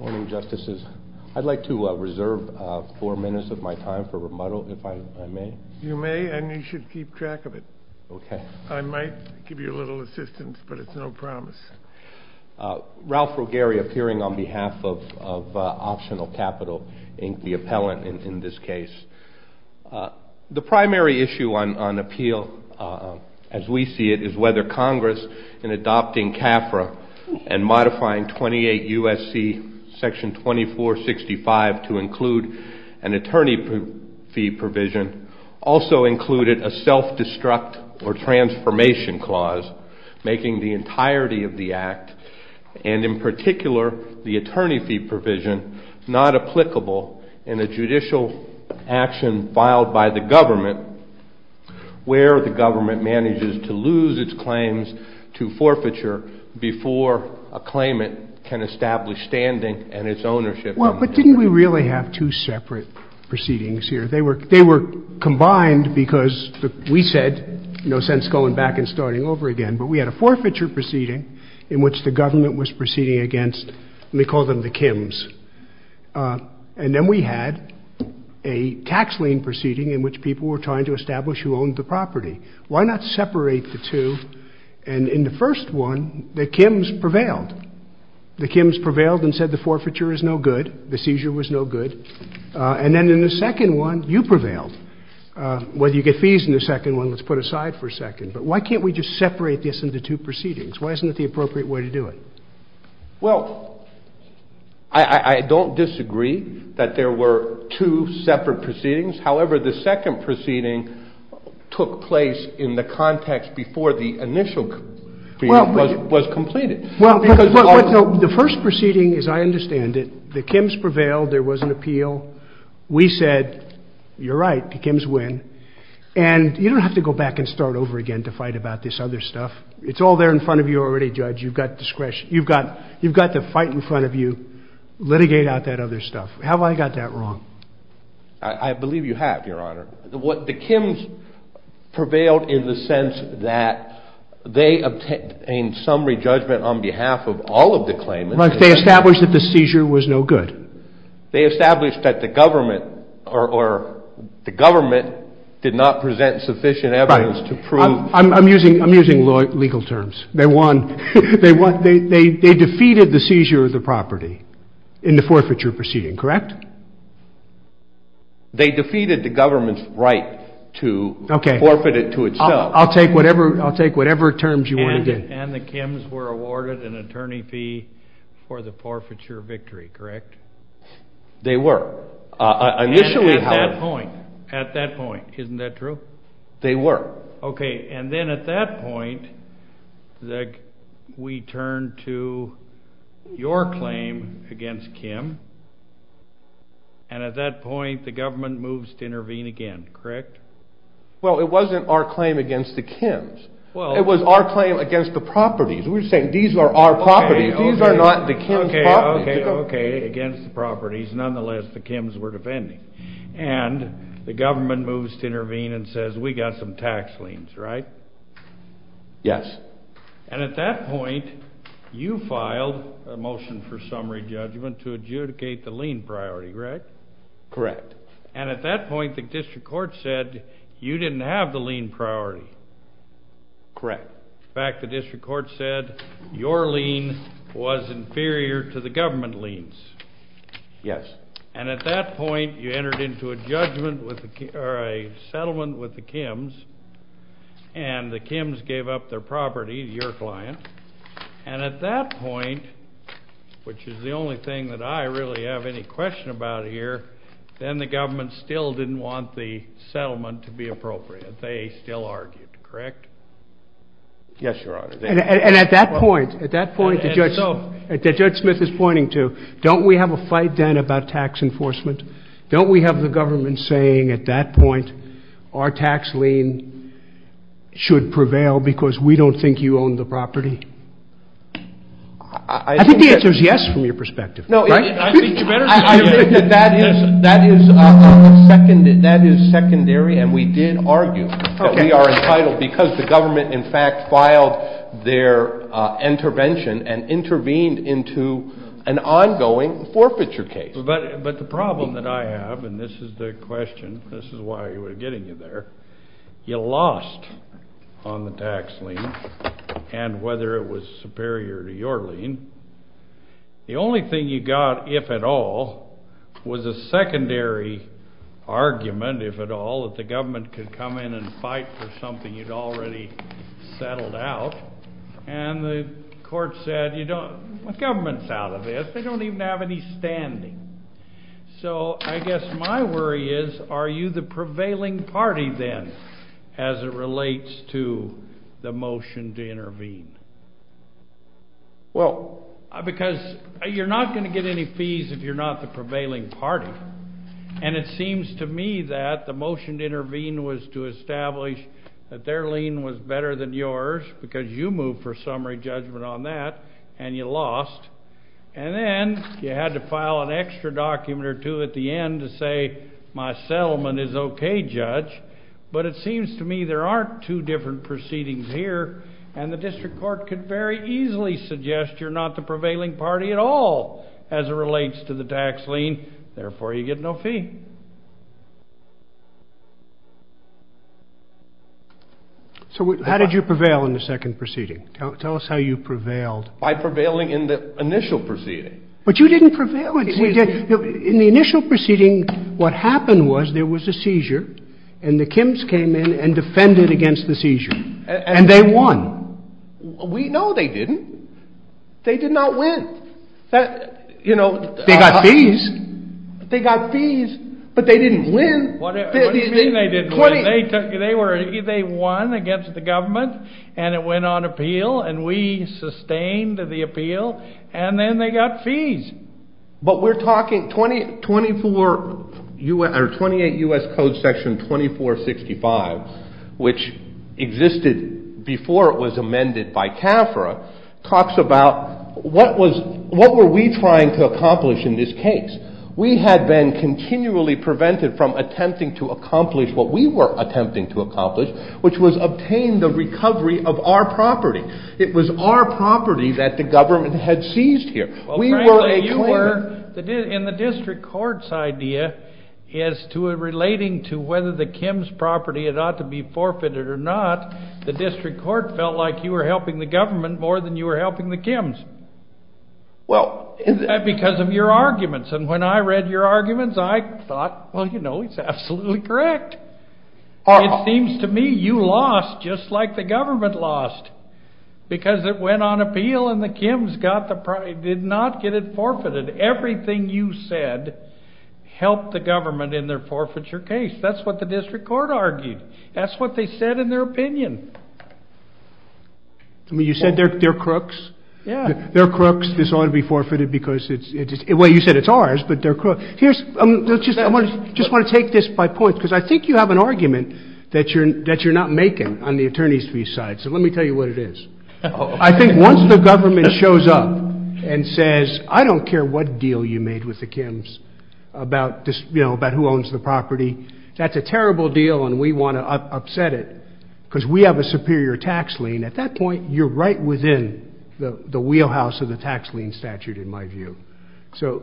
Ralph Rogeri appearing on behalf of Optional Capital, the appellant in this case. The primary issue on appeal, as we see it, is whether Congress in adopting CAFRA and modifying 28 U.S.C. section 2465 to include an attorney fee provision also included a self-destruct or transformation clause making the before a claimant can establish standing and its ownership. Well, but didn't we really have two separate proceedings here? They were combined because we said no sense going back and starting over again. But we had a forfeiture proceeding in which the government was proceeding against, and they called them the Kims. And then we had a tax lien proceeding in which people were trying to establish who owned the property. Why not separate the two? And in the first one, the Kims prevailed. The Kims prevailed and said the forfeiture is no good, the seizure was no good. And then in the second one, you prevailed. Whether you get fees in the second one, let's put aside for a second. But why can't we just separate this into two proceedings? Why isn't it the appropriate way to do it? Well, I don't disagree that there were two separate proceedings. However, the second proceeding took place in the context before the initial was completed. Well, the first proceeding, as I understand it, the Kims prevailed. There was an appeal. We said, you're right, the Kims win. And you don't have to go back and start over again to fight about this other stuff. It's all there in front of you already, Judge. You've got discretion. You've got to fight in front of you, litigate out that other stuff. Have I got that wrong? I believe you have, Your Honor. The Kims prevailed in the sense that they obtained summary judgment on behalf of all of the claimants. But they established that the seizure was no good. They established that the government or the government did not present sufficient evidence to prove. I'm using legal terms. They won. They defeated the seizure of the property in the forfeiture proceeding, correct? They defeated the government's right to forfeit it to itself. I'll take whatever terms you want to give. And the Kims were awarded an attorney fee for the forfeiture victory, correct? They were. At that point, at that point, isn't that true? They were. Okay, and then at that point, we turn to your claim against Kim. And at that point, the government moves to intervene again, correct? Well, it wasn't our claim against the Kims. It was our claim against the properties. We were saying these are our properties. These are not the Kims' properties. Okay, okay, okay, against the properties. Nonetheless, the Kims were defending. And the government moves to intervene and says, we got some tax liens, right? Yes. And at that point, you filed a motion for summary judgment to adjudicate the lien priority, correct? Correct. And at that point, the district court said you didn't have the lien priority. Correct. In fact, the district court said your lien was inferior to the government liens. Yes. And at that point, you entered into a judgment or a settlement with the Kims, and the Kims gave up their property to your client. And at that point, which is the only thing that I really have any question about here, then the government still didn't want the settlement to be appropriate. They still argued, correct? Yes, Your Honor. And at that point, Judge Smith is pointing to, don't we have a fight then about tax enforcement? Don't we have the government saying at that point our tax lien should prevail because we don't think you own the property? I think the answer is yes from your perspective, right? I think that is secondary, and we did argue that we are entitled because the government, in fact, filed their intervention and intervened into an ongoing forfeiture case. But the problem that I have, and this is the question, this is why we're getting you there, you lost on the tax lien, and whether it was superior to your lien, the only thing you got, if at all, was a secondary argument, if at all, that the government could come in and fight for something you'd already settled out. And the court said, you know, the government's out of this. They don't even have any standing. So I guess my worry is, are you the prevailing party then as it relates to the motion to intervene? Well, because you're not going to get any fees if you're not the prevailing party. And it seems to me that the motion to intervene was to establish that their lien was better than yours because you moved for summary judgment on that, and you lost. And then you had to file an extra document or two at the end to say my settlement is okay, judge. But it seems to me there aren't two different proceedings here, and the district court could very easily suggest you're not the prevailing party at all as it relates to the tax lien. Therefore, you get no fee. So how did you prevail in the second proceeding? Tell us how you prevailed. By prevailing in the initial proceeding. But you didn't prevail. In the initial proceeding, what happened was there was a seizure, and the Kims came in and defended against the seizure. And they won. No, they didn't. They did not win. They got fees. They got fees, but they didn't win. What do you mean they didn't win? They won against the government, and it went on appeal, and we sustained the appeal, and then they got fees. But we're talking 28 U.S. Code Section 2465, which existed before it was amended by CAFRA, talks about what were we trying to accomplish in this case? We had been continually prevented from attempting to accomplish what we were attempting to accomplish, which was obtain the recovery of our property. It was our property that the government had seized here. Frankly, you were, and the district court's idea is relating to whether the Kims' property ought to be forfeited or not. The district court felt like you were helping the government more than you were helping the Kims. Because of your arguments. And when I read your arguments, I thought, well, you know, it's absolutely correct. It seems to me you lost just like the government lost. Because it went on appeal, and the Kims did not get it forfeited. Everything you said helped the government in their forfeiture case. That's what the district court argued. That's what they said in their opinion. You said they're crooks. They're crooks. This ought to be forfeited because it's, well, you said it's ours, but they're crooks. Here's, I just want to take this by point, because I think you have an argument that you're not making on the attorney's view side. So let me tell you what it is. I think once the government shows up and says I don't care what deal you made with the Kims about who owns the property, that's a terrible deal and we want to upset it because we have a superior tax lien. At that point, you're right within the wheelhouse of the tax lien statute in my view. So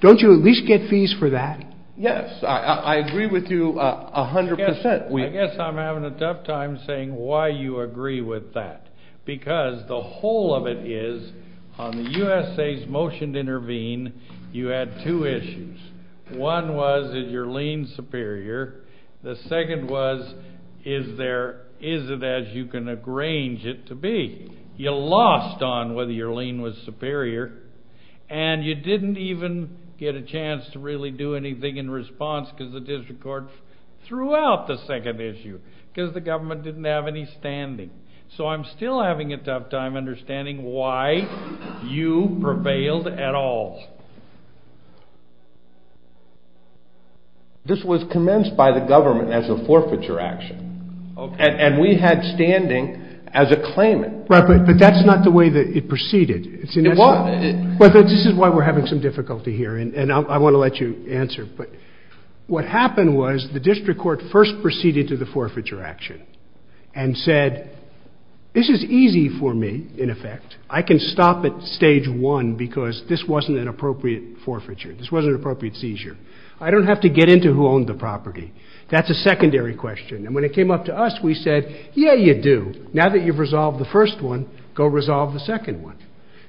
don't you at least get fees for that? Yes. I agree with you 100%. I guess I'm having a tough time saying why you agree with that. Because the whole of it is on the USA's motion to intervene, you had two issues. One was is your lien superior? The second was is there, is it as you can arrange it to be? You lost on whether your lien was superior, and you didn't even get a chance to really do anything in response because the district court threw out the second issue because the government didn't have any standing. So I'm still having a tough time understanding why you prevailed at all. This was commenced by the government as a forfeiture action. And we had standing as a claimant. Right, but that's not the way that it proceeded. It was. But this is why we're having some difficulty here, and I want to let you answer. But what happened was the district court first proceeded to the forfeiture action and said, this is easy for me, in effect. I can stop at stage one because this wasn't an appropriate forfeiture. This wasn't an appropriate seizure. I don't have to get into who owned the property. That's a secondary question. And when it came up to us, we said, yeah, you do. Now that you've resolved the first one, go resolve the second one.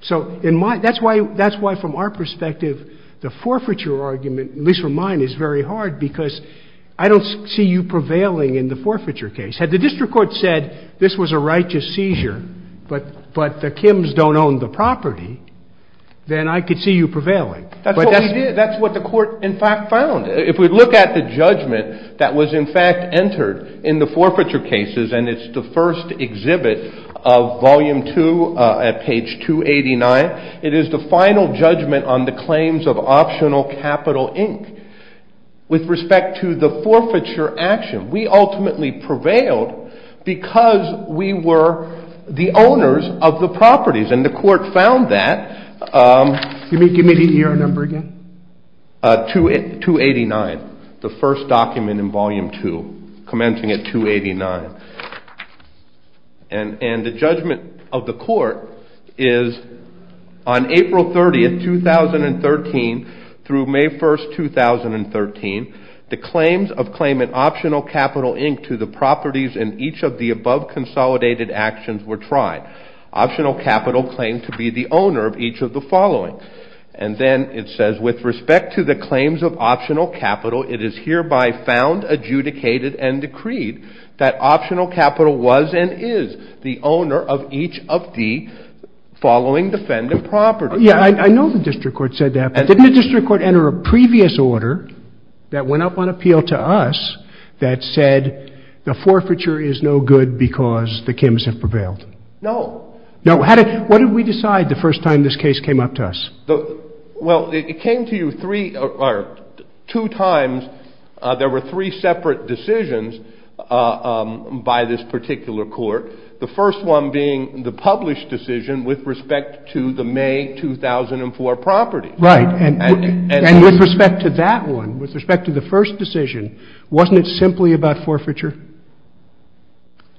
So that's why, from our perspective, the forfeiture argument, at least from mine, is very hard because I don't see you prevailing in the forfeiture case. Had the district court said this was a righteous seizure but the Kims don't own the property, then I could see you prevailing. That's what we did. That's what the court, in fact, found. If we look at the judgment that was, in fact, entered in the forfeiture cases, and it's the first exhibit of volume two at page 289, it is the final judgment on the claims of Optional Capital, Inc. With respect to the forfeiture action, we ultimately prevailed because we were the owners of the properties, and the court found that. Give me the ER number again. 289, the first document in volume two, commencing at 289. And the judgment of the court is, on April 30, 2013, through May 1, 2013, the claims of claimant Optional Capital, Inc. to the properties in each of the above consolidated actions were tried. Optional Capital claimed to be the owner of each of the following. And then it says, with respect to the claims of Optional Capital, it is hereby found, adjudicated, and decreed that Optional Capital was and is the owner of each of the following defendant properties. Yeah, I know the district court said that, but didn't the district court enter a previous order that went up on appeal to us that said the forfeiture is no good because the Kims have prevailed? No. No? What did we decide the first time this case came up to us? Well, it came to you two times. There were three separate decisions by this particular court, the first one being the published decision with respect to the May 2004 property. Right. And with respect to that one, with respect to the first decision, wasn't it simply about forfeiture?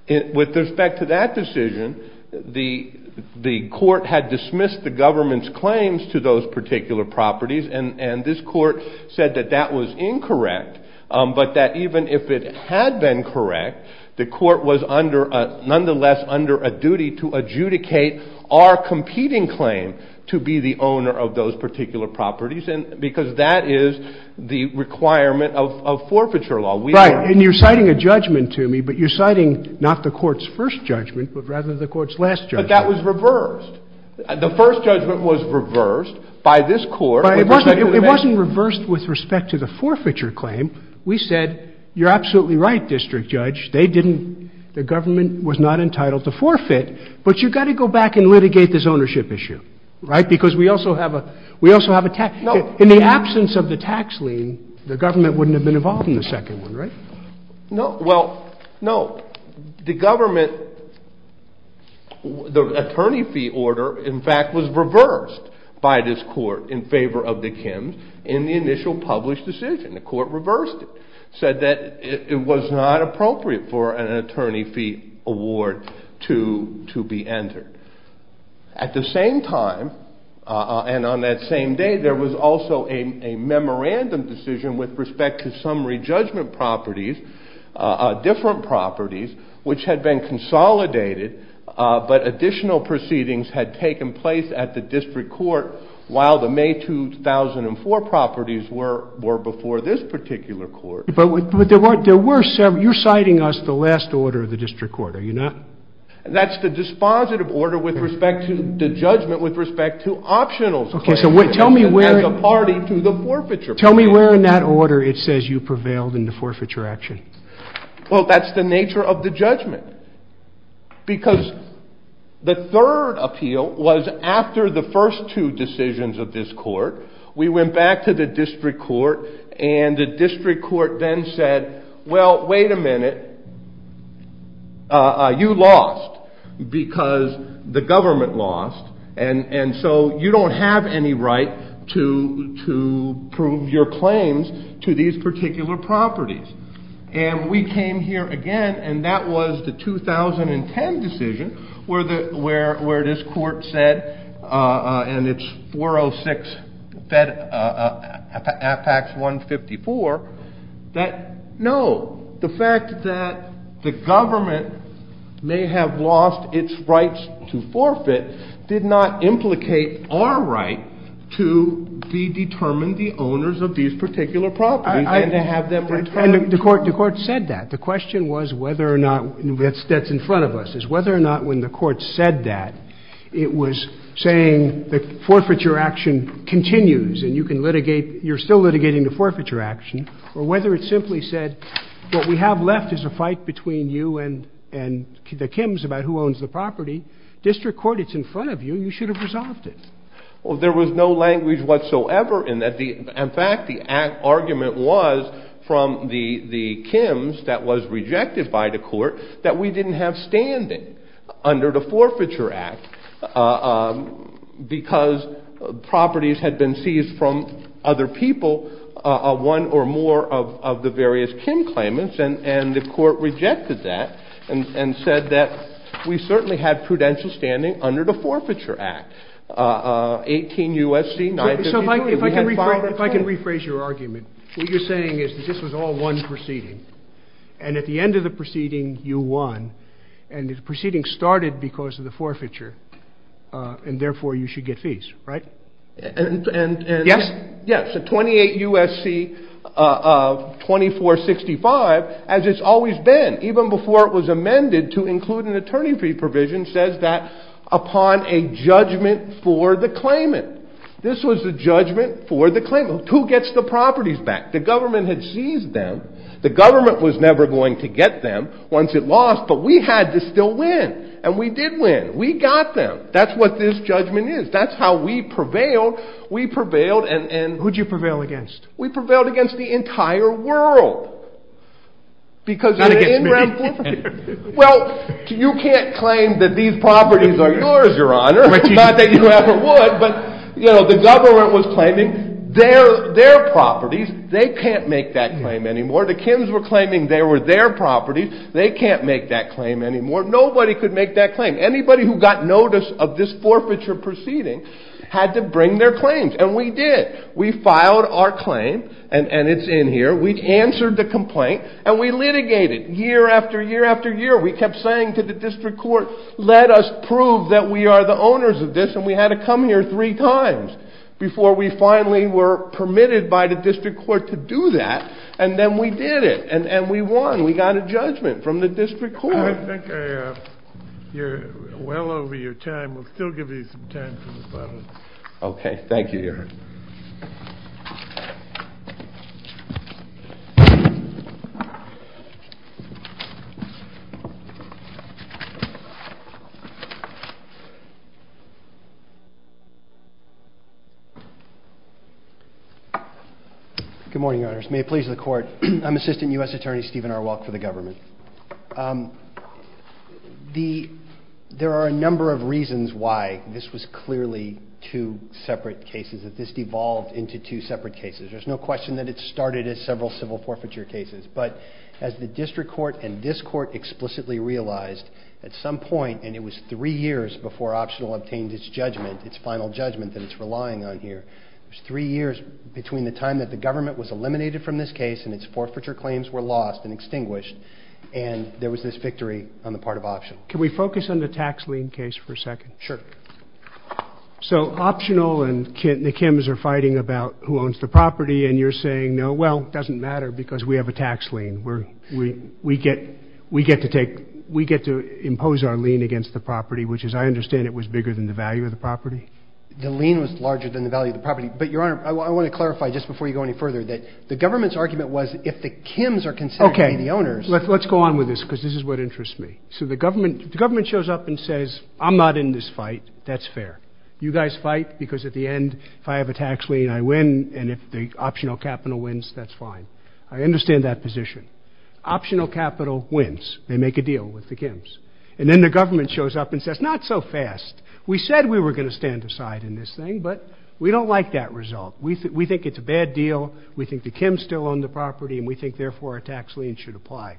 With respect to that decision, the court had dismissed the government's claims to those particular properties, and this court said that that was incorrect, but that even if it had been correct, the court was nonetheless under a duty to adjudicate our competing claim to be the owner of those particular properties because that is the requirement of forfeiture law. Right. And you're citing a judgment to me, but you're citing not the court's first judgment, but rather the court's last judgment. But that was reversed. The first judgment was reversed by this court. It wasn't reversed with respect to the forfeiture claim. We said, you're absolutely right, District Judge. They didn't – the government was not entitled to forfeit, but you've got to go back and litigate this ownership issue. Right? Because we also have a – we also have a tax – No. Well, no. The government – the attorney fee order, in fact, was reversed by this court in favor of the Kims in the initial published decision. The court reversed it, said that it was not appropriate for an attorney fee award to be entered. At the same time, and on that same day, there was also a memorandum decision with respect to summary judgment properties, different properties, which had been consolidated, but additional proceedings had taken place at the district court while the May 2004 properties were before this particular court. But there were several – you're citing us the last order of the district court, are you not? That's the dispositive order with respect to the judgment with respect to optionals. Okay, so tell me where – As a party to the forfeiture. Tell me where in that order it says you prevailed in the forfeiture action. Well, that's the nature of the judgment. Because the third appeal was after the first two decisions of this court. We went back to the district court, and the district court then said, well, wait a minute. You lost because the government lost, and so you don't have any right to prove your claims to these particular properties. And we came here again, and that was the 2010 decision where this court said, and it's 406 FACTS 154, that no, the fact that the government may have lost its rights to forfeit did not implicate our right to be determined the owners of these particular properties. And to have them returned. And the court said that. The question was whether or not – that's in front of us – whether or not when the court said that it was saying the forfeiture action continues and you can litigate – you're still litigating the forfeiture action, or whether it simply said what we have left is a fight between you and the Kims about who owns the property. District court, it's in front of you. You should have resolved it. Well, there was no language whatsoever in that. In fact, the argument was from the Kims that was rejected by the court that we didn't have standing under the Forfeiture Act because properties had been seized from other people, one or more of the various Kim claimants, and the court rejected that and said that we certainly had prudential standing under the Forfeiture Act, 18 U.S.C. 952. So if I can rephrase your argument. What you're saying is that this was all one proceeding. And at the end of the proceeding, you won. And the proceeding started because of the forfeiture. And therefore, you should get fees, right? Yes. Yes. So 28 U.S.C. 2465, as it's always been, even before it was amended to include an attorney fee provision, says that upon a judgment for the claimant. This was a judgment for the claimant. Who gets the properties back? The government had seized them. The government was never going to get them once it lost. But we had to still win. And we did win. We got them. That's what this judgment is. That's how we prevailed. We prevailed. And who did you prevail against? We prevailed against the entire world. Not against me. Well, you can't claim that these properties are yours, Your Honor. Not that you ever would. But, you know, the government was claiming their properties. They can't make that claim anymore. The Kims were claiming they were their properties. They can't make that claim anymore. Nobody could make that claim. Anybody who got notice of this forfeiture proceeding had to bring their claims. And we did. We filed our claim, and it's in here. We answered the complaint, and we litigated year after year after year. We kept saying to the district court, let us prove that we are the owners of this. And we had to come here three times before we finally were permitted by the district court to do that. And then we did it. And we won. We got a judgment from the district court. I think you're well over your time. We'll still give you some time for this. Okay. Thank you, Your Honor. Good morning, Your Honors. May it please the Court. I'm Assistant U.S. Attorney Stephen R. Welk for the government. There are a number of reasons why this was clearly two separate cases, that this devolved into two separate cases. There's no question that it started as several civil forfeiture cases. But as the district court and this court explicitly realized, at some point, and it was three years before Optional obtained its judgment, its final judgment that it's relying on here, it was three years between the time that the government was eliminated from this case and its forfeiture claims were lost and extinguished, and there was this victory on the part of Optional. Can we focus on the tax lien case for a second? Sure. So Optional and the Kims are fighting about who owns the property, and you're saying, no, well, it doesn't matter because we have a tax lien. We get to impose our lien against the property, which, as I understand it, was bigger than the value of the property? The lien was larger than the value of the property. But, Your Honor, I want to clarify, just before you go any further, that the government's argument was if the Kims are considered to be the owners. Okay. Let's go on with this because this is what interests me. So the government shows up and says, I'm not in this fight. That's fair. You guys fight because at the end, if I have a tax lien, I win, and if the Optional Capital wins, that's fine. I understand that position. Optional Capital wins. They make a deal with the Kims. And then the government shows up and says, not so fast. We said we were going to stand aside in this thing, but we don't like that result. We think it's a bad deal. We think the Kims still own the property, and we think, therefore, a tax lien should apply.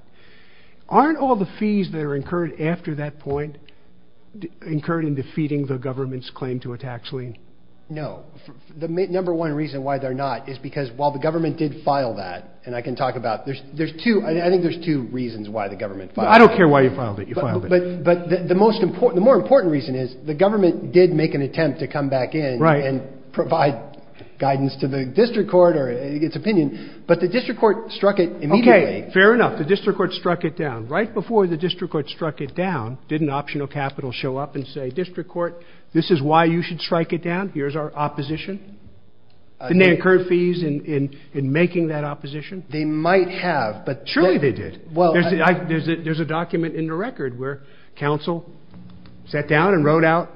Aren't all the fees that are incurred after that point incurred in defeating the government's claim to a tax lien? No. The number one reason why they're not is because while the government did file that, and I can talk about it, there's two. I think there's two reasons why the government filed it. I don't care why you filed it. You filed it. But the more important reason is the government did make an attempt to come back in and provide guidance to the district court or its opinion, but the district court struck it immediately. Okay. Fair enough. The district court struck it down. Right before the district court struck it down, didn't Optional Capital show up and say, district court, this is why you should strike it down? Here's our opposition? Didn't they incur fees in making that opposition? They might have. Surely they did. There's a document in the record where counsel sat down and wrote out,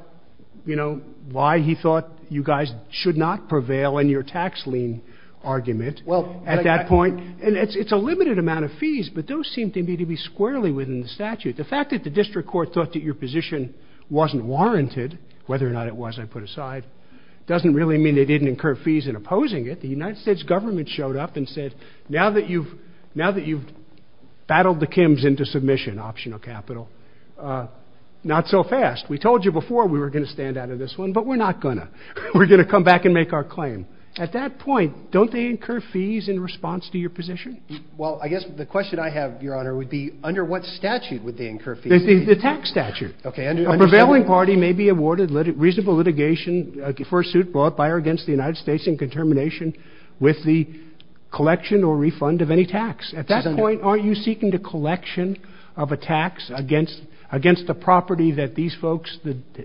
you know, why he thought you guys should not prevail in your tax lien argument at that point, and it's a limited amount of fees, but those seem to me to be squarely within the statute. The fact that the district court thought that your position wasn't warranted, whether or not it was, I put aside, doesn't really mean they didn't incur fees in opposing it. The United States government showed up and said, now that you've battled the Kims into submission, Optional Capital, not so fast. We told you before we were going to stand out of this one, but we're not going to. We're going to come back and make our claim. At that point, don't they incur fees in response to your position? Well, I guess the question I have, Your Honor, would be under what statute would they incur fees? The tax statute. A prevailing party may be awarded reasonable litigation for a suit brought by or against the United States in contermination with the collection or refund of any tax. At that point, aren't you seeking the collection of a tax against the property that these folks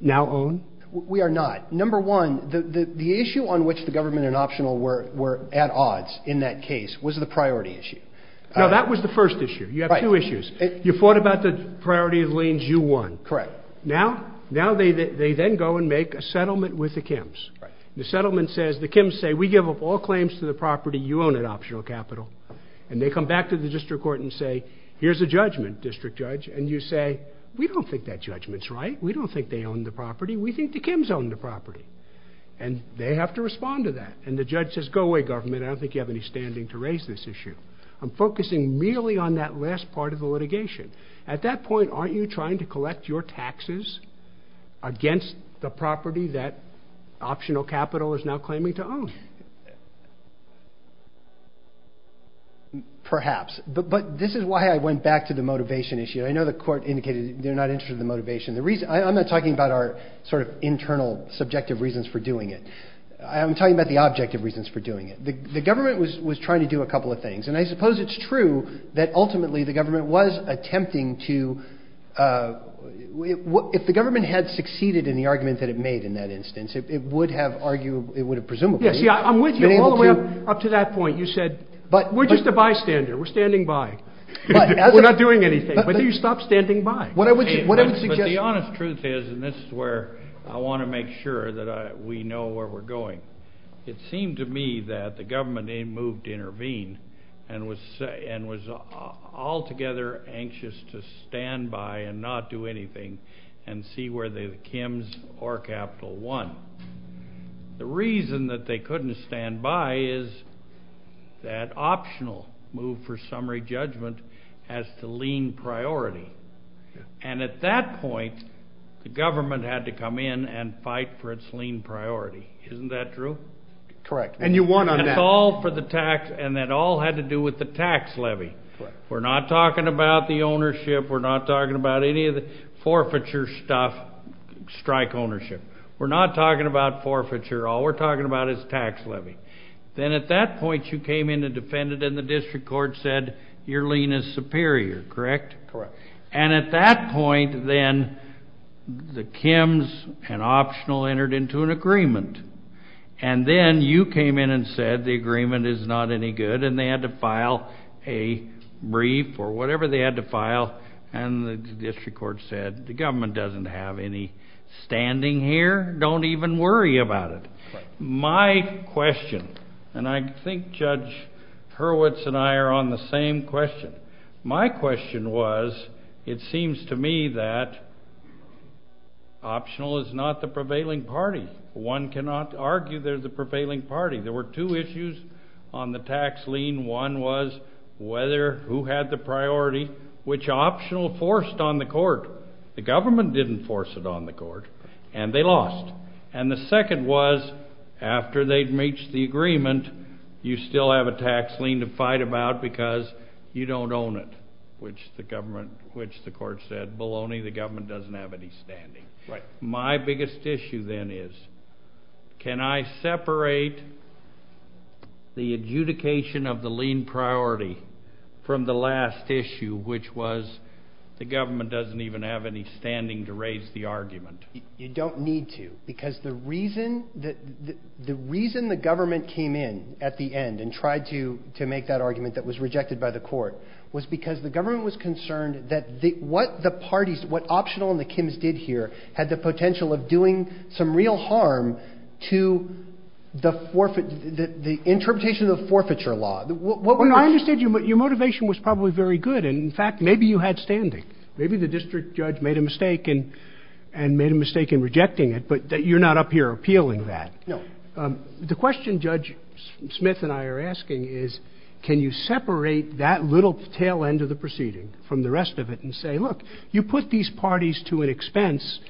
now own? We are not. Number one, the issue on which the government and Optional were at odds in that case was the priority issue. No, that was the first issue. You have two issues. You fought about the priority of liens. You won. Correct. Now they then go and make a settlement with the Kims. The settlement says, the Kims say, we give up all claims to the property you own at Optional Capital, and they come back to the district court and say, here's a judgment, district judge, and you say, we don't think that judgment's right. We don't think they own the property. We think the Kims own the property. And they have to respond to that. And the judge says, go away, government. I don't think you have any standing to raise this issue. I'm focusing merely on that last part of the litigation. At that point, aren't you trying to collect your taxes against the property that Optional Capital is now claiming to own? Perhaps. But this is why I went back to the motivation issue. I know the court indicated they're not interested in the motivation. I'm not talking about our sort of internal subjective reasons for doing it. I'm talking about the objective reasons for doing it. The government was trying to do a couple of things. And I suppose it's true that ultimately the government was attempting to ‑‑ if the government had succeeded in the argument that it made in that instance, it would have arguably ‑‑ it would have presumably ‑‑ See, I'm with you all the way up to that point. You said, we're just a bystander. We're standing by. We're not doing anything. But then you stop standing by. But the honest truth is, and this is where I want to make sure that we know where we're going, it seemed to me that the government moved to intervene and was altogether anxious to stand by and not do anything and see whether the Kims or Capital won. The reason that they couldn't stand by is that Optional moved for summary judgment as to lean priority. And at that point, the government had to come in and fight for its lean priority. Isn't that true? Correct. And you won on that. And it's all for the tax. And it all had to do with the tax levy. Correct. We're not talking about the ownership. We're not talking about any of the forfeiture stuff, strike ownership. We're not talking about forfeiture. All we're talking about is tax levy. Then at that point, you came in and defended, and the district court said your lean is superior, correct? Correct. And at that point, then, the Kims and Optional entered into an agreement. And then you came in and said the agreement is not any good, and they had to file a brief or whatever they had to file, and the district court said the government doesn't have any standing here. Don't even worry about it. My question, and I think Judge Hurwitz and I are on the same question. My question was it seems to me that Optional is not the prevailing party. One cannot argue they're the prevailing party. There were two issues on the tax lien. One was whether who had the priority, which Optional forced on the court. The government didn't force it on the court, and they lost. And the second was after they'd reached the agreement, you still have a tax lien to fight about because you don't own it, which the court said, baloney, the government doesn't have any standing. My biggest issue, then, is can I separate the adjudication of the lien priority from the last issue, which was the government doesn't even have any standing to raise the argument? You don't need to because the reason the government came in at the end and tried to make that argument that was rejected by the court was because the government was concerned that what the parties, what Optional and the Kims did here had the potential of doing some real harm to the interpretation of the forfeiture law. I understand your motivation was probably very good, and, in fact, maybe you had standing. Maybe the district judge made a mistake and made a mistake in rejecting it, but you're not up here appealing that. No. The question Judge Smith and I are asking is can you separate that little tail end of the proceeding from the rest of it and say, look, you put these parties to an expense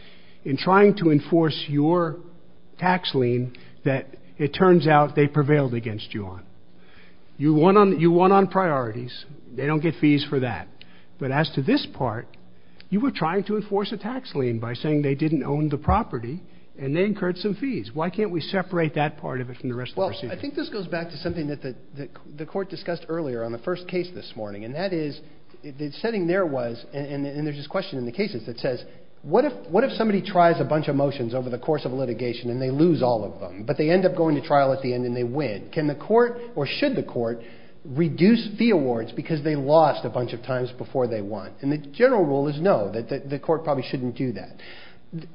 in trying to enforce your tax lien that it turns out they prevailed against you on. You won on priorities. They don't get fees for that. But as to this part, you were trying to enforce a tax lien by saying they didn't own the property and they incurred some fees. Why can't we separate that part of it from the rest of the proceeding? Well, I think this goes back to something that the court discussed earlier on the first case this morning, and that is the setting there was, and there's this question in the cases that says, what if somebody tries a bunch of motions over the course of a litigation and they lose all of them, but they end up going to trial at the end and they win? Can the court or should the court reduce fee awards because they lost a bunch of times before they won? And the general rule is no, the court probably shouldn't do that.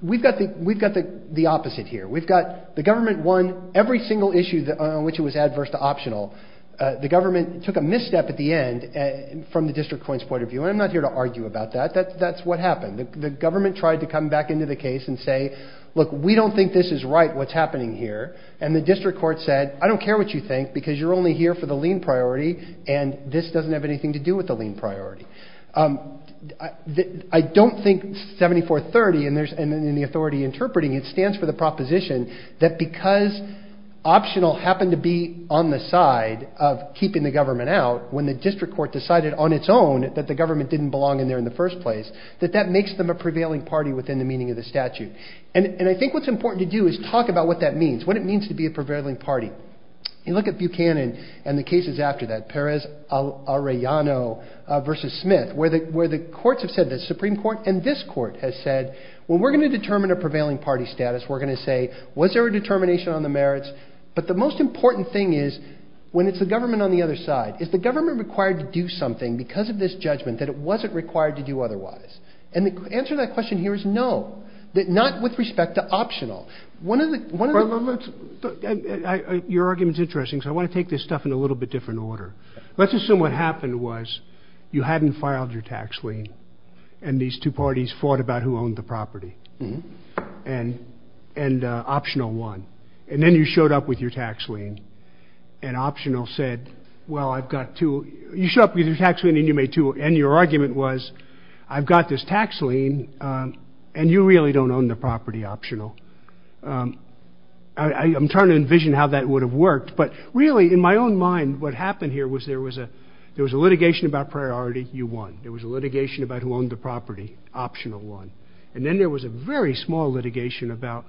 We've got the opposite here. We've got the government won every single issue on which it was adverse to optional. The government took a misstep at the end from the district court's point of view, and I'm not here to argue about that. That's what happened. The government tried to come back into the case and say, look, we don't think this is right, what's happening here. And the district court said, I don't care what you think because you're only here for the lien priority and this doesn't have anything to do with the lien priority. I don't think 7430 and the authority interpreting it stands for the proposition that because optional happened to be on the side of keeping the government out when the district court decided on its own that the government didn't belong in there in the first place, that that makes them a prevailing party within the meaning of the statute. And I think what's important to do is talk about what that means. What it means to be a prevailing party. You look at Buchanan and the cases after that, Perez Arellano versus Smith, where the courts have said, the Supreme Court and this court has said, well, we're going to determine a prevailing party status. We're going to say, was there a determination on the merits? But the most important thing is when it's the government on the other side, is the government required to do something because of this judgment that it wasn't required to do otherwise? And the answer to that question here is no, not with respect to optional. Your argument is interesting, so I want to take this stuff in a little bit different order. Let's assume what happened was you hadn't filed your tax lien and these two parties fought about who owned the property. And optional won. And then you showed up with your tax lien and optional said, well, I've got two. You showed up with your tax lien and you made two, and your argument was, I've got this tax lien and you really don't own the property, optional. I'm trying to envision how that would have worked. But really, in my own mind, what happened here was there was a litigation about priority. You won. There was a litigation about who owned the property, optional won. And then there was a very small litigation about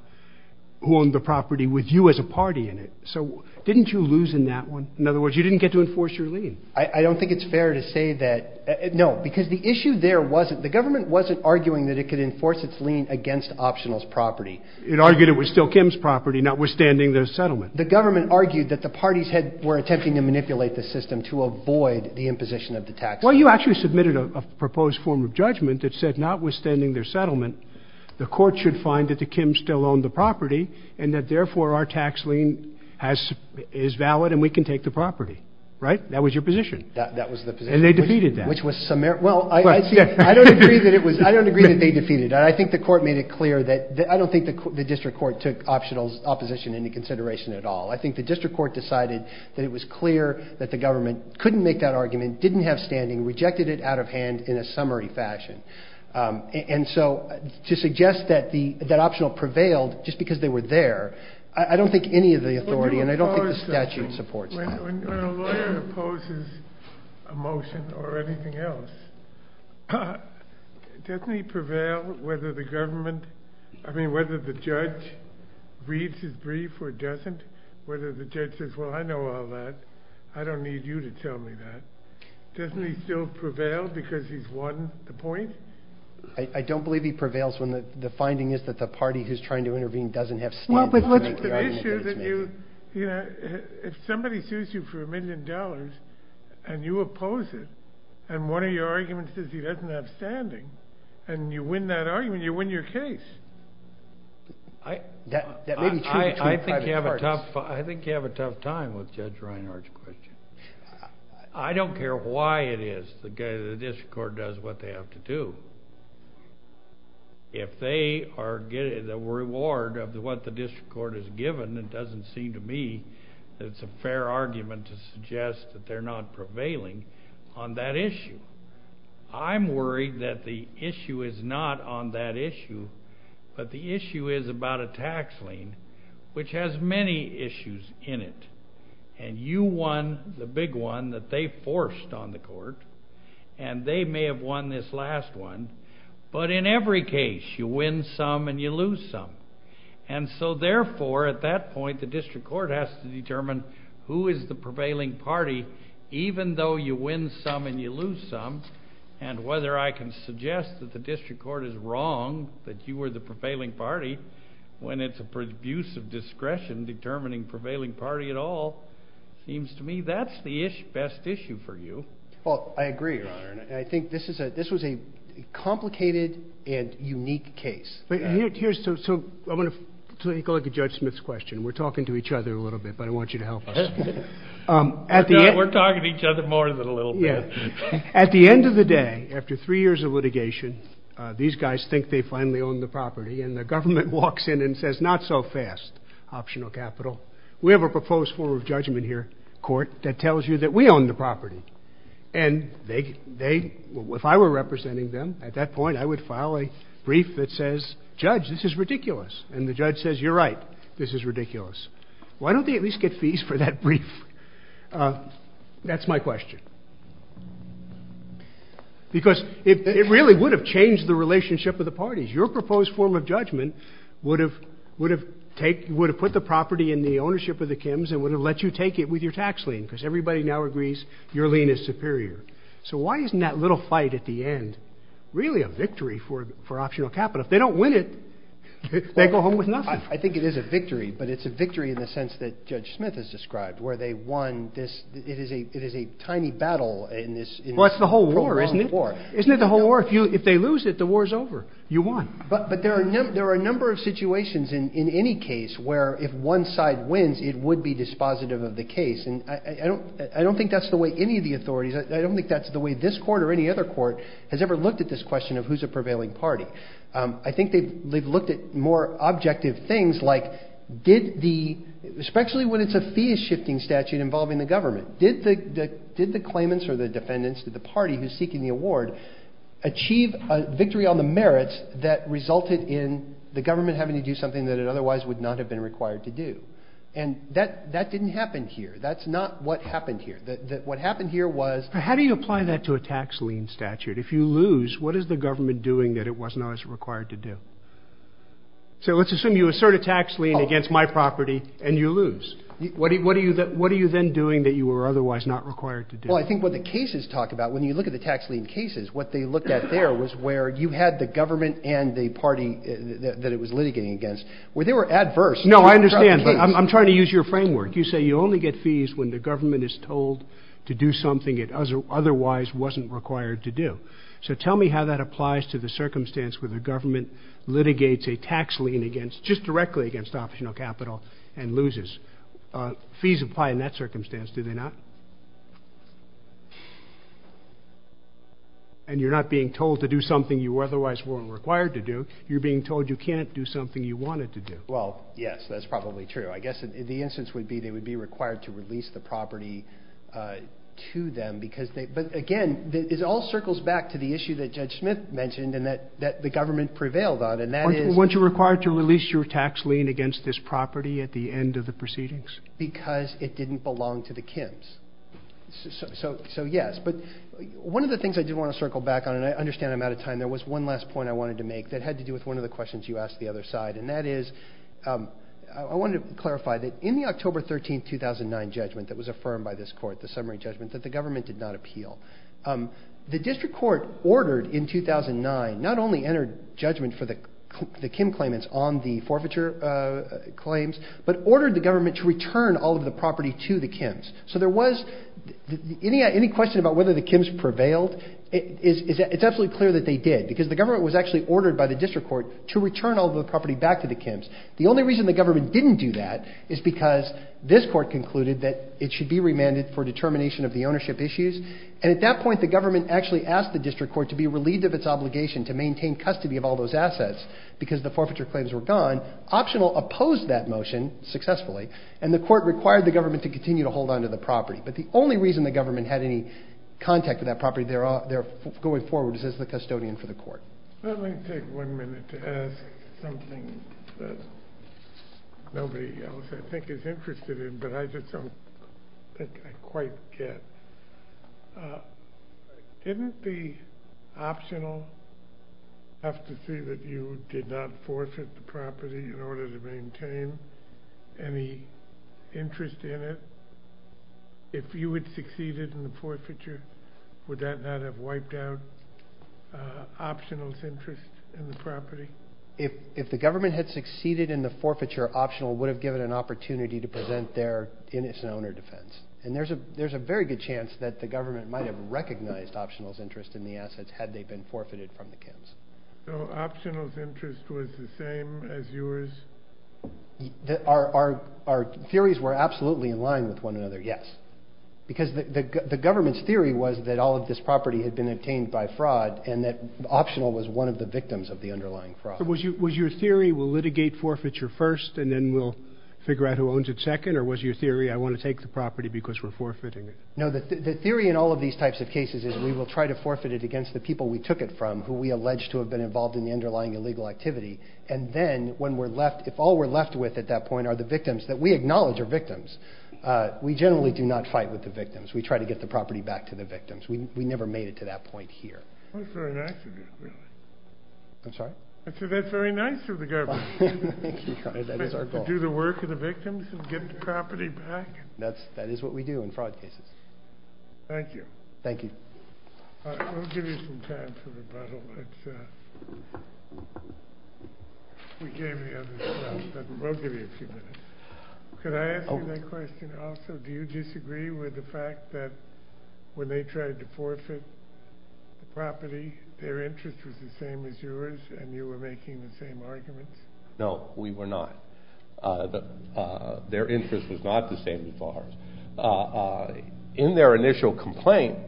who owned the property with you as a party in it. So didn't you lose in that one? In other words, you didn't get to enforce your lien. I don't think it's fair to say that. No, because the issue there wasn't. The government wasn't arguing that it could enforce its lien against optional's property. It argued it was still Kim's property, notwithstanding their settlement. The government argued that the parties were attempting to manipulate the system to avoid the imposition of the tax lien. Well, you actually submitted a proposed form of judgment that said, notwithstanding their settlement, the court should find that the Kims still owned the property and that, therefore, our tax lien is valid and we can take the property. Right? That was your position. That was the position. And they defeated that. Well, I don't agree that they defeated it. I don't think the district court took optional's opposition into consideration at all. I think the district court decided that it was clear that the government couldn't make that argument, didn't have standing, rejected it out of hand in a summary fashion. And so to suggest that optional prevailed just because they were there, I don't think any of the authority and I don't think the statute supports that. When a lawyer opposes a motion or anything else, doesn't he prevail whether the government, I mean, whether the judge reads his brief or doesn't, whether the judge says, well, I know all that. I don't need you to tell me that. Doesn't he still prevail because he's won the point? I don't believe he prevails when the finding is that the party who's trying to intervene doesn't have standing. It's an issue that if somebody sues you for a million dollars and you oppose it and one of your arguments is he doesn't have standing and you win that argument, you win your case. I think you have a tough time with Judge Reinhardt's question. I don't care why it is the district court does what they have to do. If they are getting the reward of what the district court has given, it doesn't seem to me that it's a fair argument to suggest that they're not prevailing on that issue. I'm worried that the issue is not on that issue, but the issue is about a tax lien, which has many issues in it. And you won the big one that they forced on the court, and they may have won this last one. But in every case, you win some and you lose some. And so, therefore, at that point, the district court has to determine who is the prevailing party, even though you win some and you lose some. And whether I can suggest that the district court is wrong, that you are the prevailing party, when it's a produce of discretion determining prevailing party at all, seems to me that's the best issue for you. Well, I agree, Your Honor. And I think this was a complicated and unique case. So I want to take a look at Judge Smith's question. We're talking to each other a little bit, but I want you to help us. We're talking to each other more than a little bit. Yeah. At the end of the day, after three years of litigation, these guys think they finally own the property, and the government walks in and says, not so fast, optional capital. We have a proposed form of judgment here, court, that tells you that we own the property. And if I were representing them at that point, I would file a brief that says, Judge, this is ridiculous. And the judge says, you're right, this is ridiculous. Why don't they at least get fees for that brief? That's my question. Because it really would have changed the relationship of the parties. Your proposed form of judgment would have put the property in the ownership of the Kims and would have let you take it with your tax lien, because everybody now agrees your lien is superior. So why isn't that little fight at the end really a victory for optional capital? If they don't win it, they go home with nothing. I think it is a victory, but it's a victory in the sense that Judge Smith has described, where they won this. It is a tiny battle in this. Well, it's the whole war, isn't it? Isn't it the whole war? If they lose it, the war is over. You won. But there are a number of situations in any case where if one side wins, it would be dispositive of the case. And I don't think that's the way any of the authorities, I don't think that's the way this court or any other court has ever looked at this question of who's a prevailing party. I think they've looked at more objective things like did the, especially when it's a fee-shifting statute involving the government, did the claimants or the defendants, the party who's seeking the award, achieve a victory on the merits that resulted in the government having to do something that it otherwise would not have been required to do? And that didn't happen here. That's not what happened here. What happened here was— How do you apply that to a tax lien statute? If you lose, what is the government doing that it wasn't always required to do? So let's assume you assert a tax lien against my property and you lose. What are you then doing that you were otherwise not required to do? Well, I think what the cases talk about, when you look at the tax lien cases, what they looked at there was where you had the government and the party that it was litigating against, where they were adverse. No, I understand, but I'm trying to use your framework. You say you only get fees when the government is told to do something it otherwise wasn't required to do. So tell me how that applies to the circumstance where the government litigates a tax lien against—just directly against—optional capital and loses. Fees apply in that circumstance, do they not? And you're not being told to do something you otherwise weren't required to do. You're being told you can't do something you wanted to do. Well, yes, that's probably true. I guess the instance would be they would be required to release the property to them. But, again, it all circles back to the issue that Judge Smith mentioned and that the government prevailed on, and that is— Weren't you required to release your tax lien against this property at the end of the proceedings? Because it didn't belong to the Kims. So, yes. But one of the things I did want to circle back on, and I understand I'm out of time, there was one last point I wanted to make that had to do with one of the questions you asked the other side. And that is I wanted to clarify that in the October 13, 2009 judgment that was affirmed by this court, the summary judgment, that the government did not appeal. The district court ordered in 2009 not only entered judgment for the Kim claimants on the forfeiture claims, but ordered the government to return all of the property to the Kims. So there was—any question about whether the Kims prevailed, it's absolutely clear that they did. Because the government was actually ordered by the district court to return all of the property back to the Kims. The only reason the government didn't do that is because this court concluded that it should be remanded for determination of the ownership issues. And at that point, the government actually asked the district court to be relieved of its obligation to maintain custody of all those assets because the forfeiture claims were gone. Optional opposed that motion successfully, and the court required the government to continue to hold on to the property. But the only reason the government had any contact with that property going forward is as the custodian for the court. Let me take one minute to ask something that nobody else I think is interested in, but I just don't think I quite get. Didn't the Optional have to see that you did not forfeit the property in order to maintain any interest in it? If you had succeeded in the forfeiture, would that not have wiped out Optional's interest in the property? If the government had succeeded in the forfeiture, Optional would have given an opportunity to present their innocent owner defense. And there's a very good chance that the government might have recognized Optional's interest in the assets had they been forfeited from the camps. So Optional's interest was the same as yours? Our theories were absolutely in line with one another, yes. Because the government's theory was that all of this property had been obtained by fraud and that Optional was one of the victims of the underlying fraud. So was your theory, we'll litigate forfeiture first and then we'll figure out who owns it second? Or was your theory, I want to take the property because we're forfeiting it? No, the theory in all of these types of cases is we will try to forfeit it against the people we took it from, who we allege to have been involved in the underlying illegal activity. And then when we're left, if all we're left with at that point are the victims that we acknowledge are victims, we generally do not fight with the victims. We try to get the property back to the victims. We never made it to that point here. That's very nice of you. I'm sorry? I said that's very nice of the government. Thank you. That is our goal. To do the work of the victims and get the property back. That is what we do in fraud cases. Thank you. Thank you. We'll give you some time for rebuttal. We gave you the other stuff, but we'll give you a few minutes. Could I ask you that question also? Do you disagree with the fact that when they tried to forfeit the property, their interest was the same as yours and you were making the same arguments? No, we were not. Their interest was not the same as ours. In their initial complaint,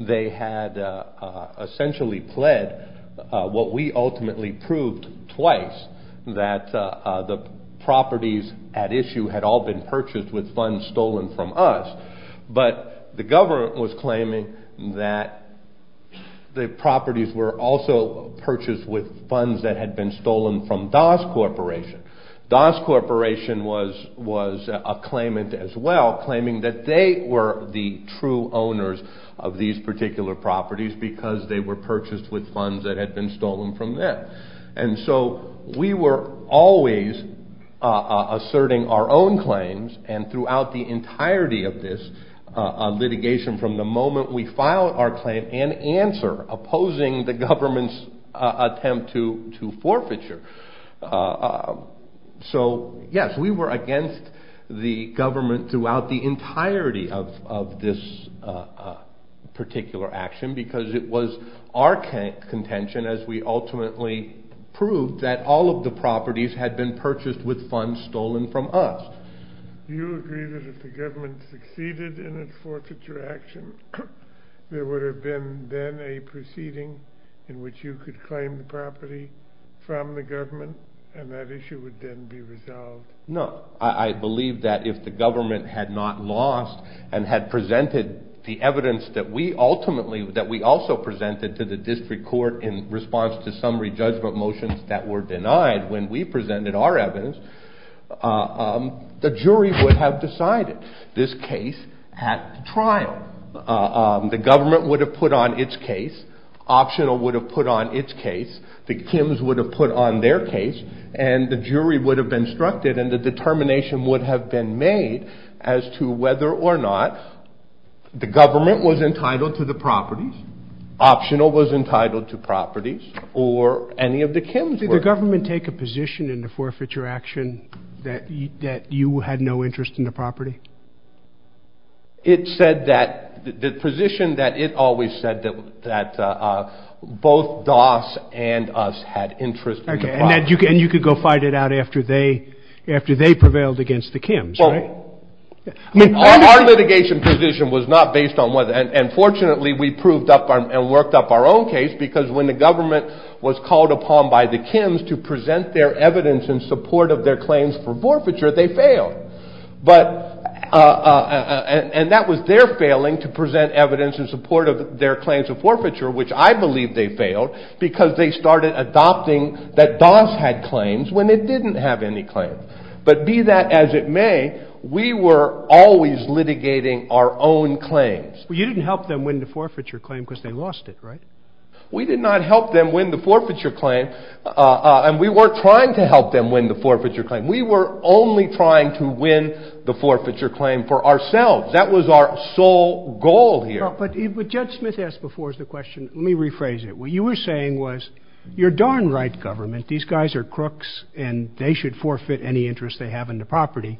they had essentially pled what we ultimately proved twice, that the properties at issue had all been purchased with funds stolen from us. But the government was claiming that the properties were also purchased with funds that had been stolen from DAS Corporation. DAS Corporation was a claimant as well, claiming that they were the true owners of these particular properties because they were purchased with funds that had been stolen from them. And so we were always asserting our own claims and throughout the entirety of this litigation from the moment we filed our claim and answer opposing the government's attempt to forfeiture. So yes, we were against the government throughout the entirety of this particular action because it was our contention as we ultimately proved that all of the properties had been purchased with funds stolen from us. Do you agree that if the government succeeded in its forfeiture action, there would have been then a proceeding in which you could claim the property from the government and that issue would then be resolved? No. I believe that if the government had not lost and had presented the evidence that we ultimately, that we also presented to the district court in response to some re-judgment motions that were denied when we presented our evidence, the jury would have decided this case at trial. The government would have put on its case, Optional would have put on its case, the Kims would have put on their case, and the jury would have been instructed and the determination would have been made as to whether or not the government was entitled to the properties, Optional was entitled to properties, or any of the Kims were. Did the government take a position in the forfeiture action that you had no interest in the property? It said that, the position that it always said that both Doss and us had interest in the property. And you could go fight it out after they prevailed against the Kims, right? Our litigation position was not based on whether, and fortunately we proved up and worked up our own case because when the government was called upon by the Kims to present their evidence in support of their claims for forfeiture, they failed. And that was their failing to present evidence in support of their claims of forfeiture, which I believe they failed because they started adopting that Doss had claims when it didn't have any claims. But be that as it may, we were always litigating our own claims. You didn't help them win the forfeiture claim because they lost it, right? We did not help them win the forfeiture claim and we weren't trying to help them win the forfeiture claim. We were only trying to win the forfeiture claim for ourselves. That was our sole goal here. But what Judge Smith asked before was the question, let me rephrase it. What you were saying was, you're darn right government, these guys are crooks and they should forfeit any interest they have in the property.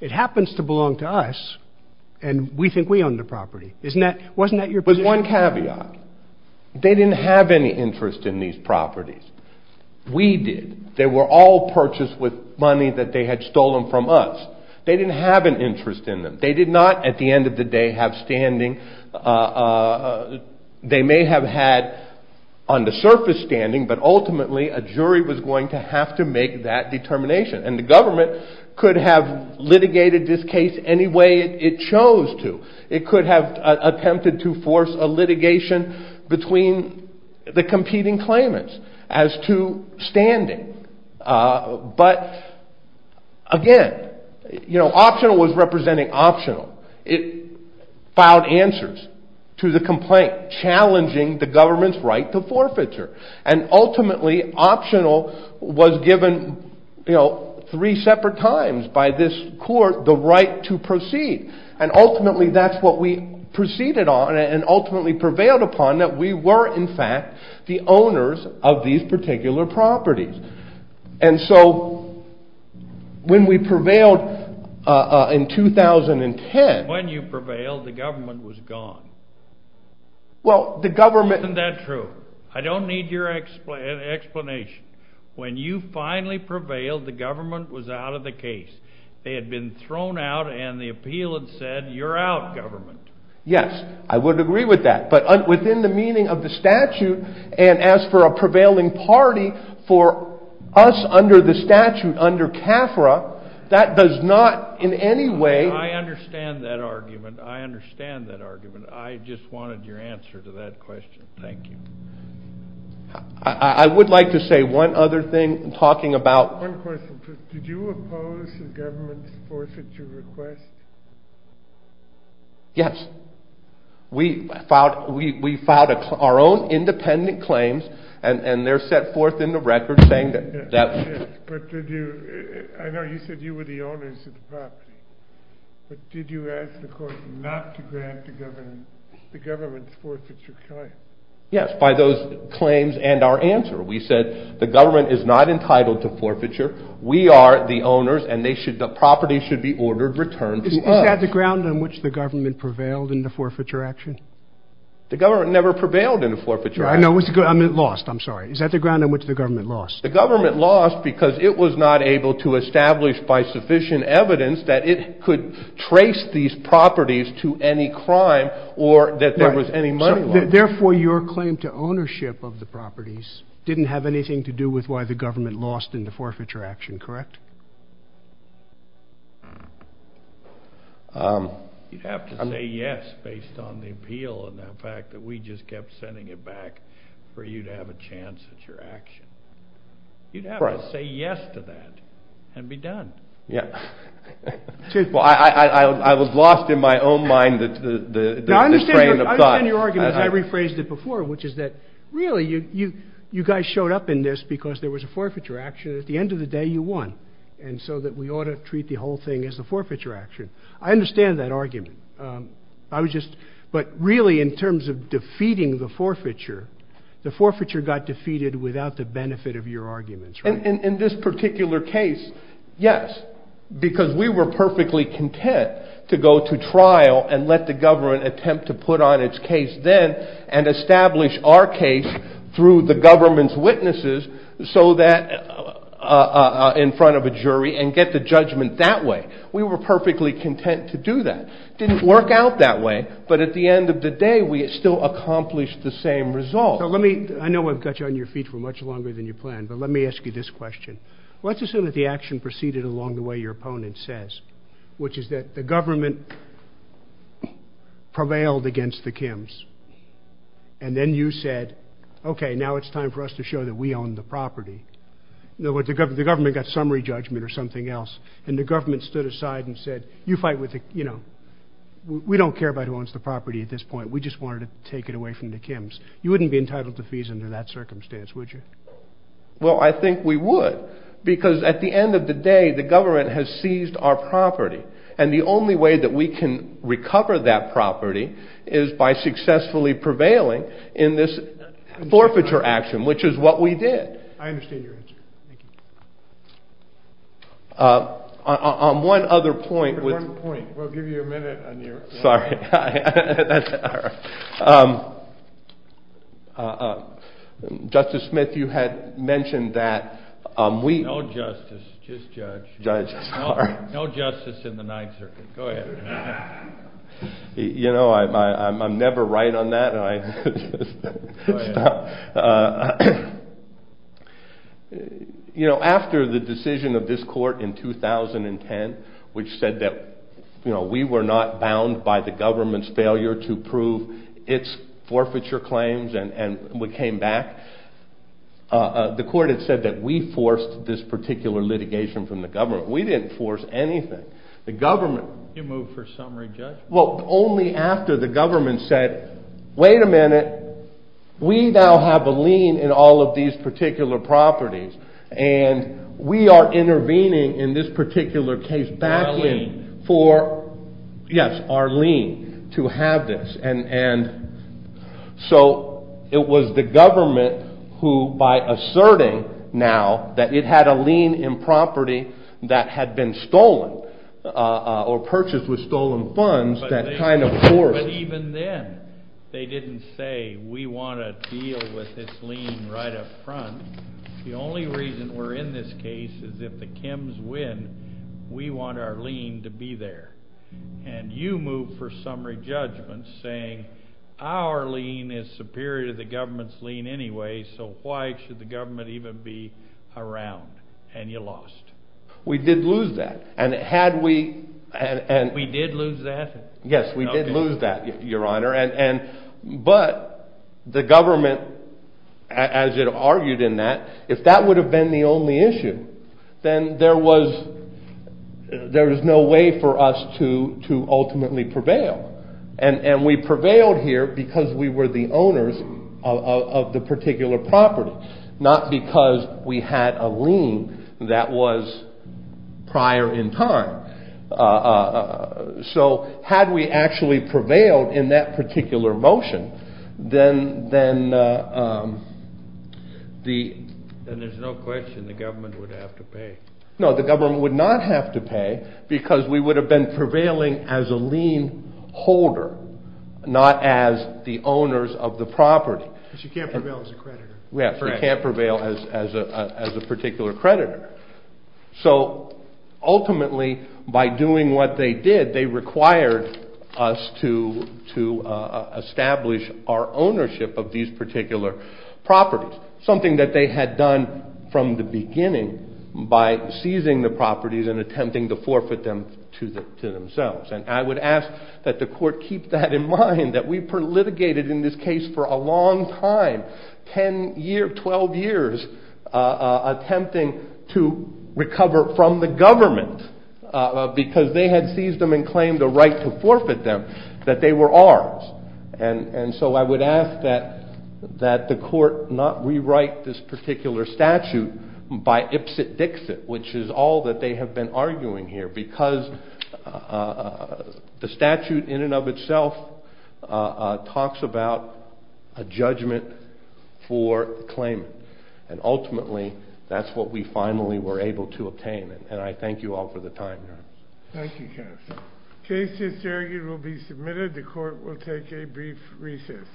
It happens to belong to us and we think we own the property. Isn't that, wasn't that your position? It was one caveat. They didn't have any interest in these properties. We did. They were all purchased with money that they had stolen from us. They didn't have an interest in them. They did not, at the end of the day, have standing. They may have had on the surface standing, but ultimately a jury was going to have to make that determination. And the government could have litigated this case any way it chose to. It could have attempted to force a litigation between the competing claimants as to standing. But again, you know, Optional was representing Optional. It filed answers to the complaint challenging the government's right to forfeiture. And ultimately Optional was given, you know, three separate times by this court the right to proceed. And ultimately that's what we proceeded on and ultimately prevailed upon, that we were in fact the owners of these particular properties. And so when we prevailed in 2010. When you prevailed, the government was gone. Well, the government. Isn't that true? I don't need your explanation. When you finally prevailed, the government was out of the case. They had been thrown out and the appeal had said, you're out, government. Yes, I would agree with that. But within the meaning of the statute and as for a prevailing party, for us under the statute under CAFRA, that does not in any way. I understand that argument. I understand that argument. I just wanted your answer to that question. Thank you. I would like to say one other thing talking about. One question. Did you oppose the government's forfeiture request? Yes. We filed our own independent claims and they're set forth in the record saying that. But did you, I know you said you were the owners of the property. But did you ask the court not to grant the government's forfeiture claim? Yes, by those claims and our answer. We said the government is not entitled to forfeiture. We are the owners and the property should be ordered returned to us. Is that the ground on which the government prevailed in the forfeiture action? The government never prevailed in the forfeiture action. No, I meant lost. I'm sorry. Is that the ground on which the government lost? The government lost because it was not able to establish by sufficient evidence that it could trace these properties to any crime or that there was any money lost. Therefore, your claim to ownership of the properties didn't have anything to do with why the government lost in the forfeiture action, correct? You'd have to say yes based on the appeal and the fact that we just kept sending it back for you to have a chance at your action. You'd have to say yes to that and be done. I was lost in my own mind. I understand your argument. I rephrased it before, which is that really you guys showed up in this because there was a forfeiture action. At the end of the day, you won, and so we ought to treat the whole thing as a forfeiture action. I understand that argument, but really in terms of defeating the forfeiture, the forfeiture got defeated without the benefit of your arguments, right? In this particular case, yes, because we were perfectly content to go to trial and let the government attempt to put on its case then and establish our case through the government's witnesses so that in front of a jury and get the judgment that way. We were perfectly content to do that. It didn't work out that way, but at the end of the day, we still accomplished the same result. I know I've got you on your feet for much longer than you planned, but let me ask you this question. Let's assume that the action proceeded along the way your opponent says, which is that the government prevailed against the Kims, and then you said, okay, now it's time for us to show that we own the property. The government got summary judgment or something else, and the government stood aside and said, we don't care about who owns the property at this point. We just wanted to take it away from the Kims. You wouldn't be entitled to fees under that circumstance, would you? Well, I think we would, because at the end of the day, the government has seized our property, and the only way that we can recover that property is by successfully prevailing in this forfeiture action, which is what we did. I understand your answer. On one other point. We'll give you a minute. Sorry. Justice Smith, you had mentioned that we. No justice, just judge. Judge, sorry. No justice in the Ninth Circuit. You know, I'm never right on that. Go ahead. You know, after the decision of this court in 2010, which said that we were not bound by the government's failure to prove its forfeiture claims and we came back, the court had said that we forced this particular litigation from the government. We didn't force anything. The government. You moved for summary judgment. Well, only after the government said, wait a minute, we now have a lien in all of these particular properties, and we are intervening in this particular case. Our lien. Yes, our lien to have this. So it was the government who, by asserting now that it had a lien in property that had been stolen or purchased with stolen funds, that kind of forced. But even then, they didn't say we want to deal with this lien right up front. The only reason we're in this case is if the Kims win, we want our lien to be there. And you moved for summary judgment, saying our lien is superior to the government's lien anyway, so why should the government even be around? And you lost. We did lose that. And had we. We did lose that? Yes, we did lose that, Your Honor. But the government, as it argued in that, if that would have been the only issue, then there was no way for us to ultimately prevail. And we prevailed here because we were the owners of the particular property, not because we had a lien that was prior in time. So had we actually prevailed in that particular motion, then the. Then there's no question the government would have to pay. No, the government would not have to pay because we would have been prevailing as a lien holder, not as the owners of the property. Because you can't prevail as a creditor. Yes, you can't prevail as a particular creditor. So ultimately, by doing what they did, they required us to establish our ownership of these particular properties, something that they had done from the beginning by seizing the properties and attempting to forfeit them to themselves. And I would ask that the court keep that in mind, that we litigated in this case for a long time, 10 years, 12 years, attempting to recover from the government because they had seized them and claimed the right to forfeit them, that they were ours. And so I would ask that the court not rewrite this particular statute by ipsit-dixit, which is all that they have been arguing here because the statute in and of itself talks about a judgment for claim. And ultimately, that's what we finally were able to obtain. And I thank you all for the time. Thank you, counsel. The case is adjourned and will be submitted. The court will take a brief recess.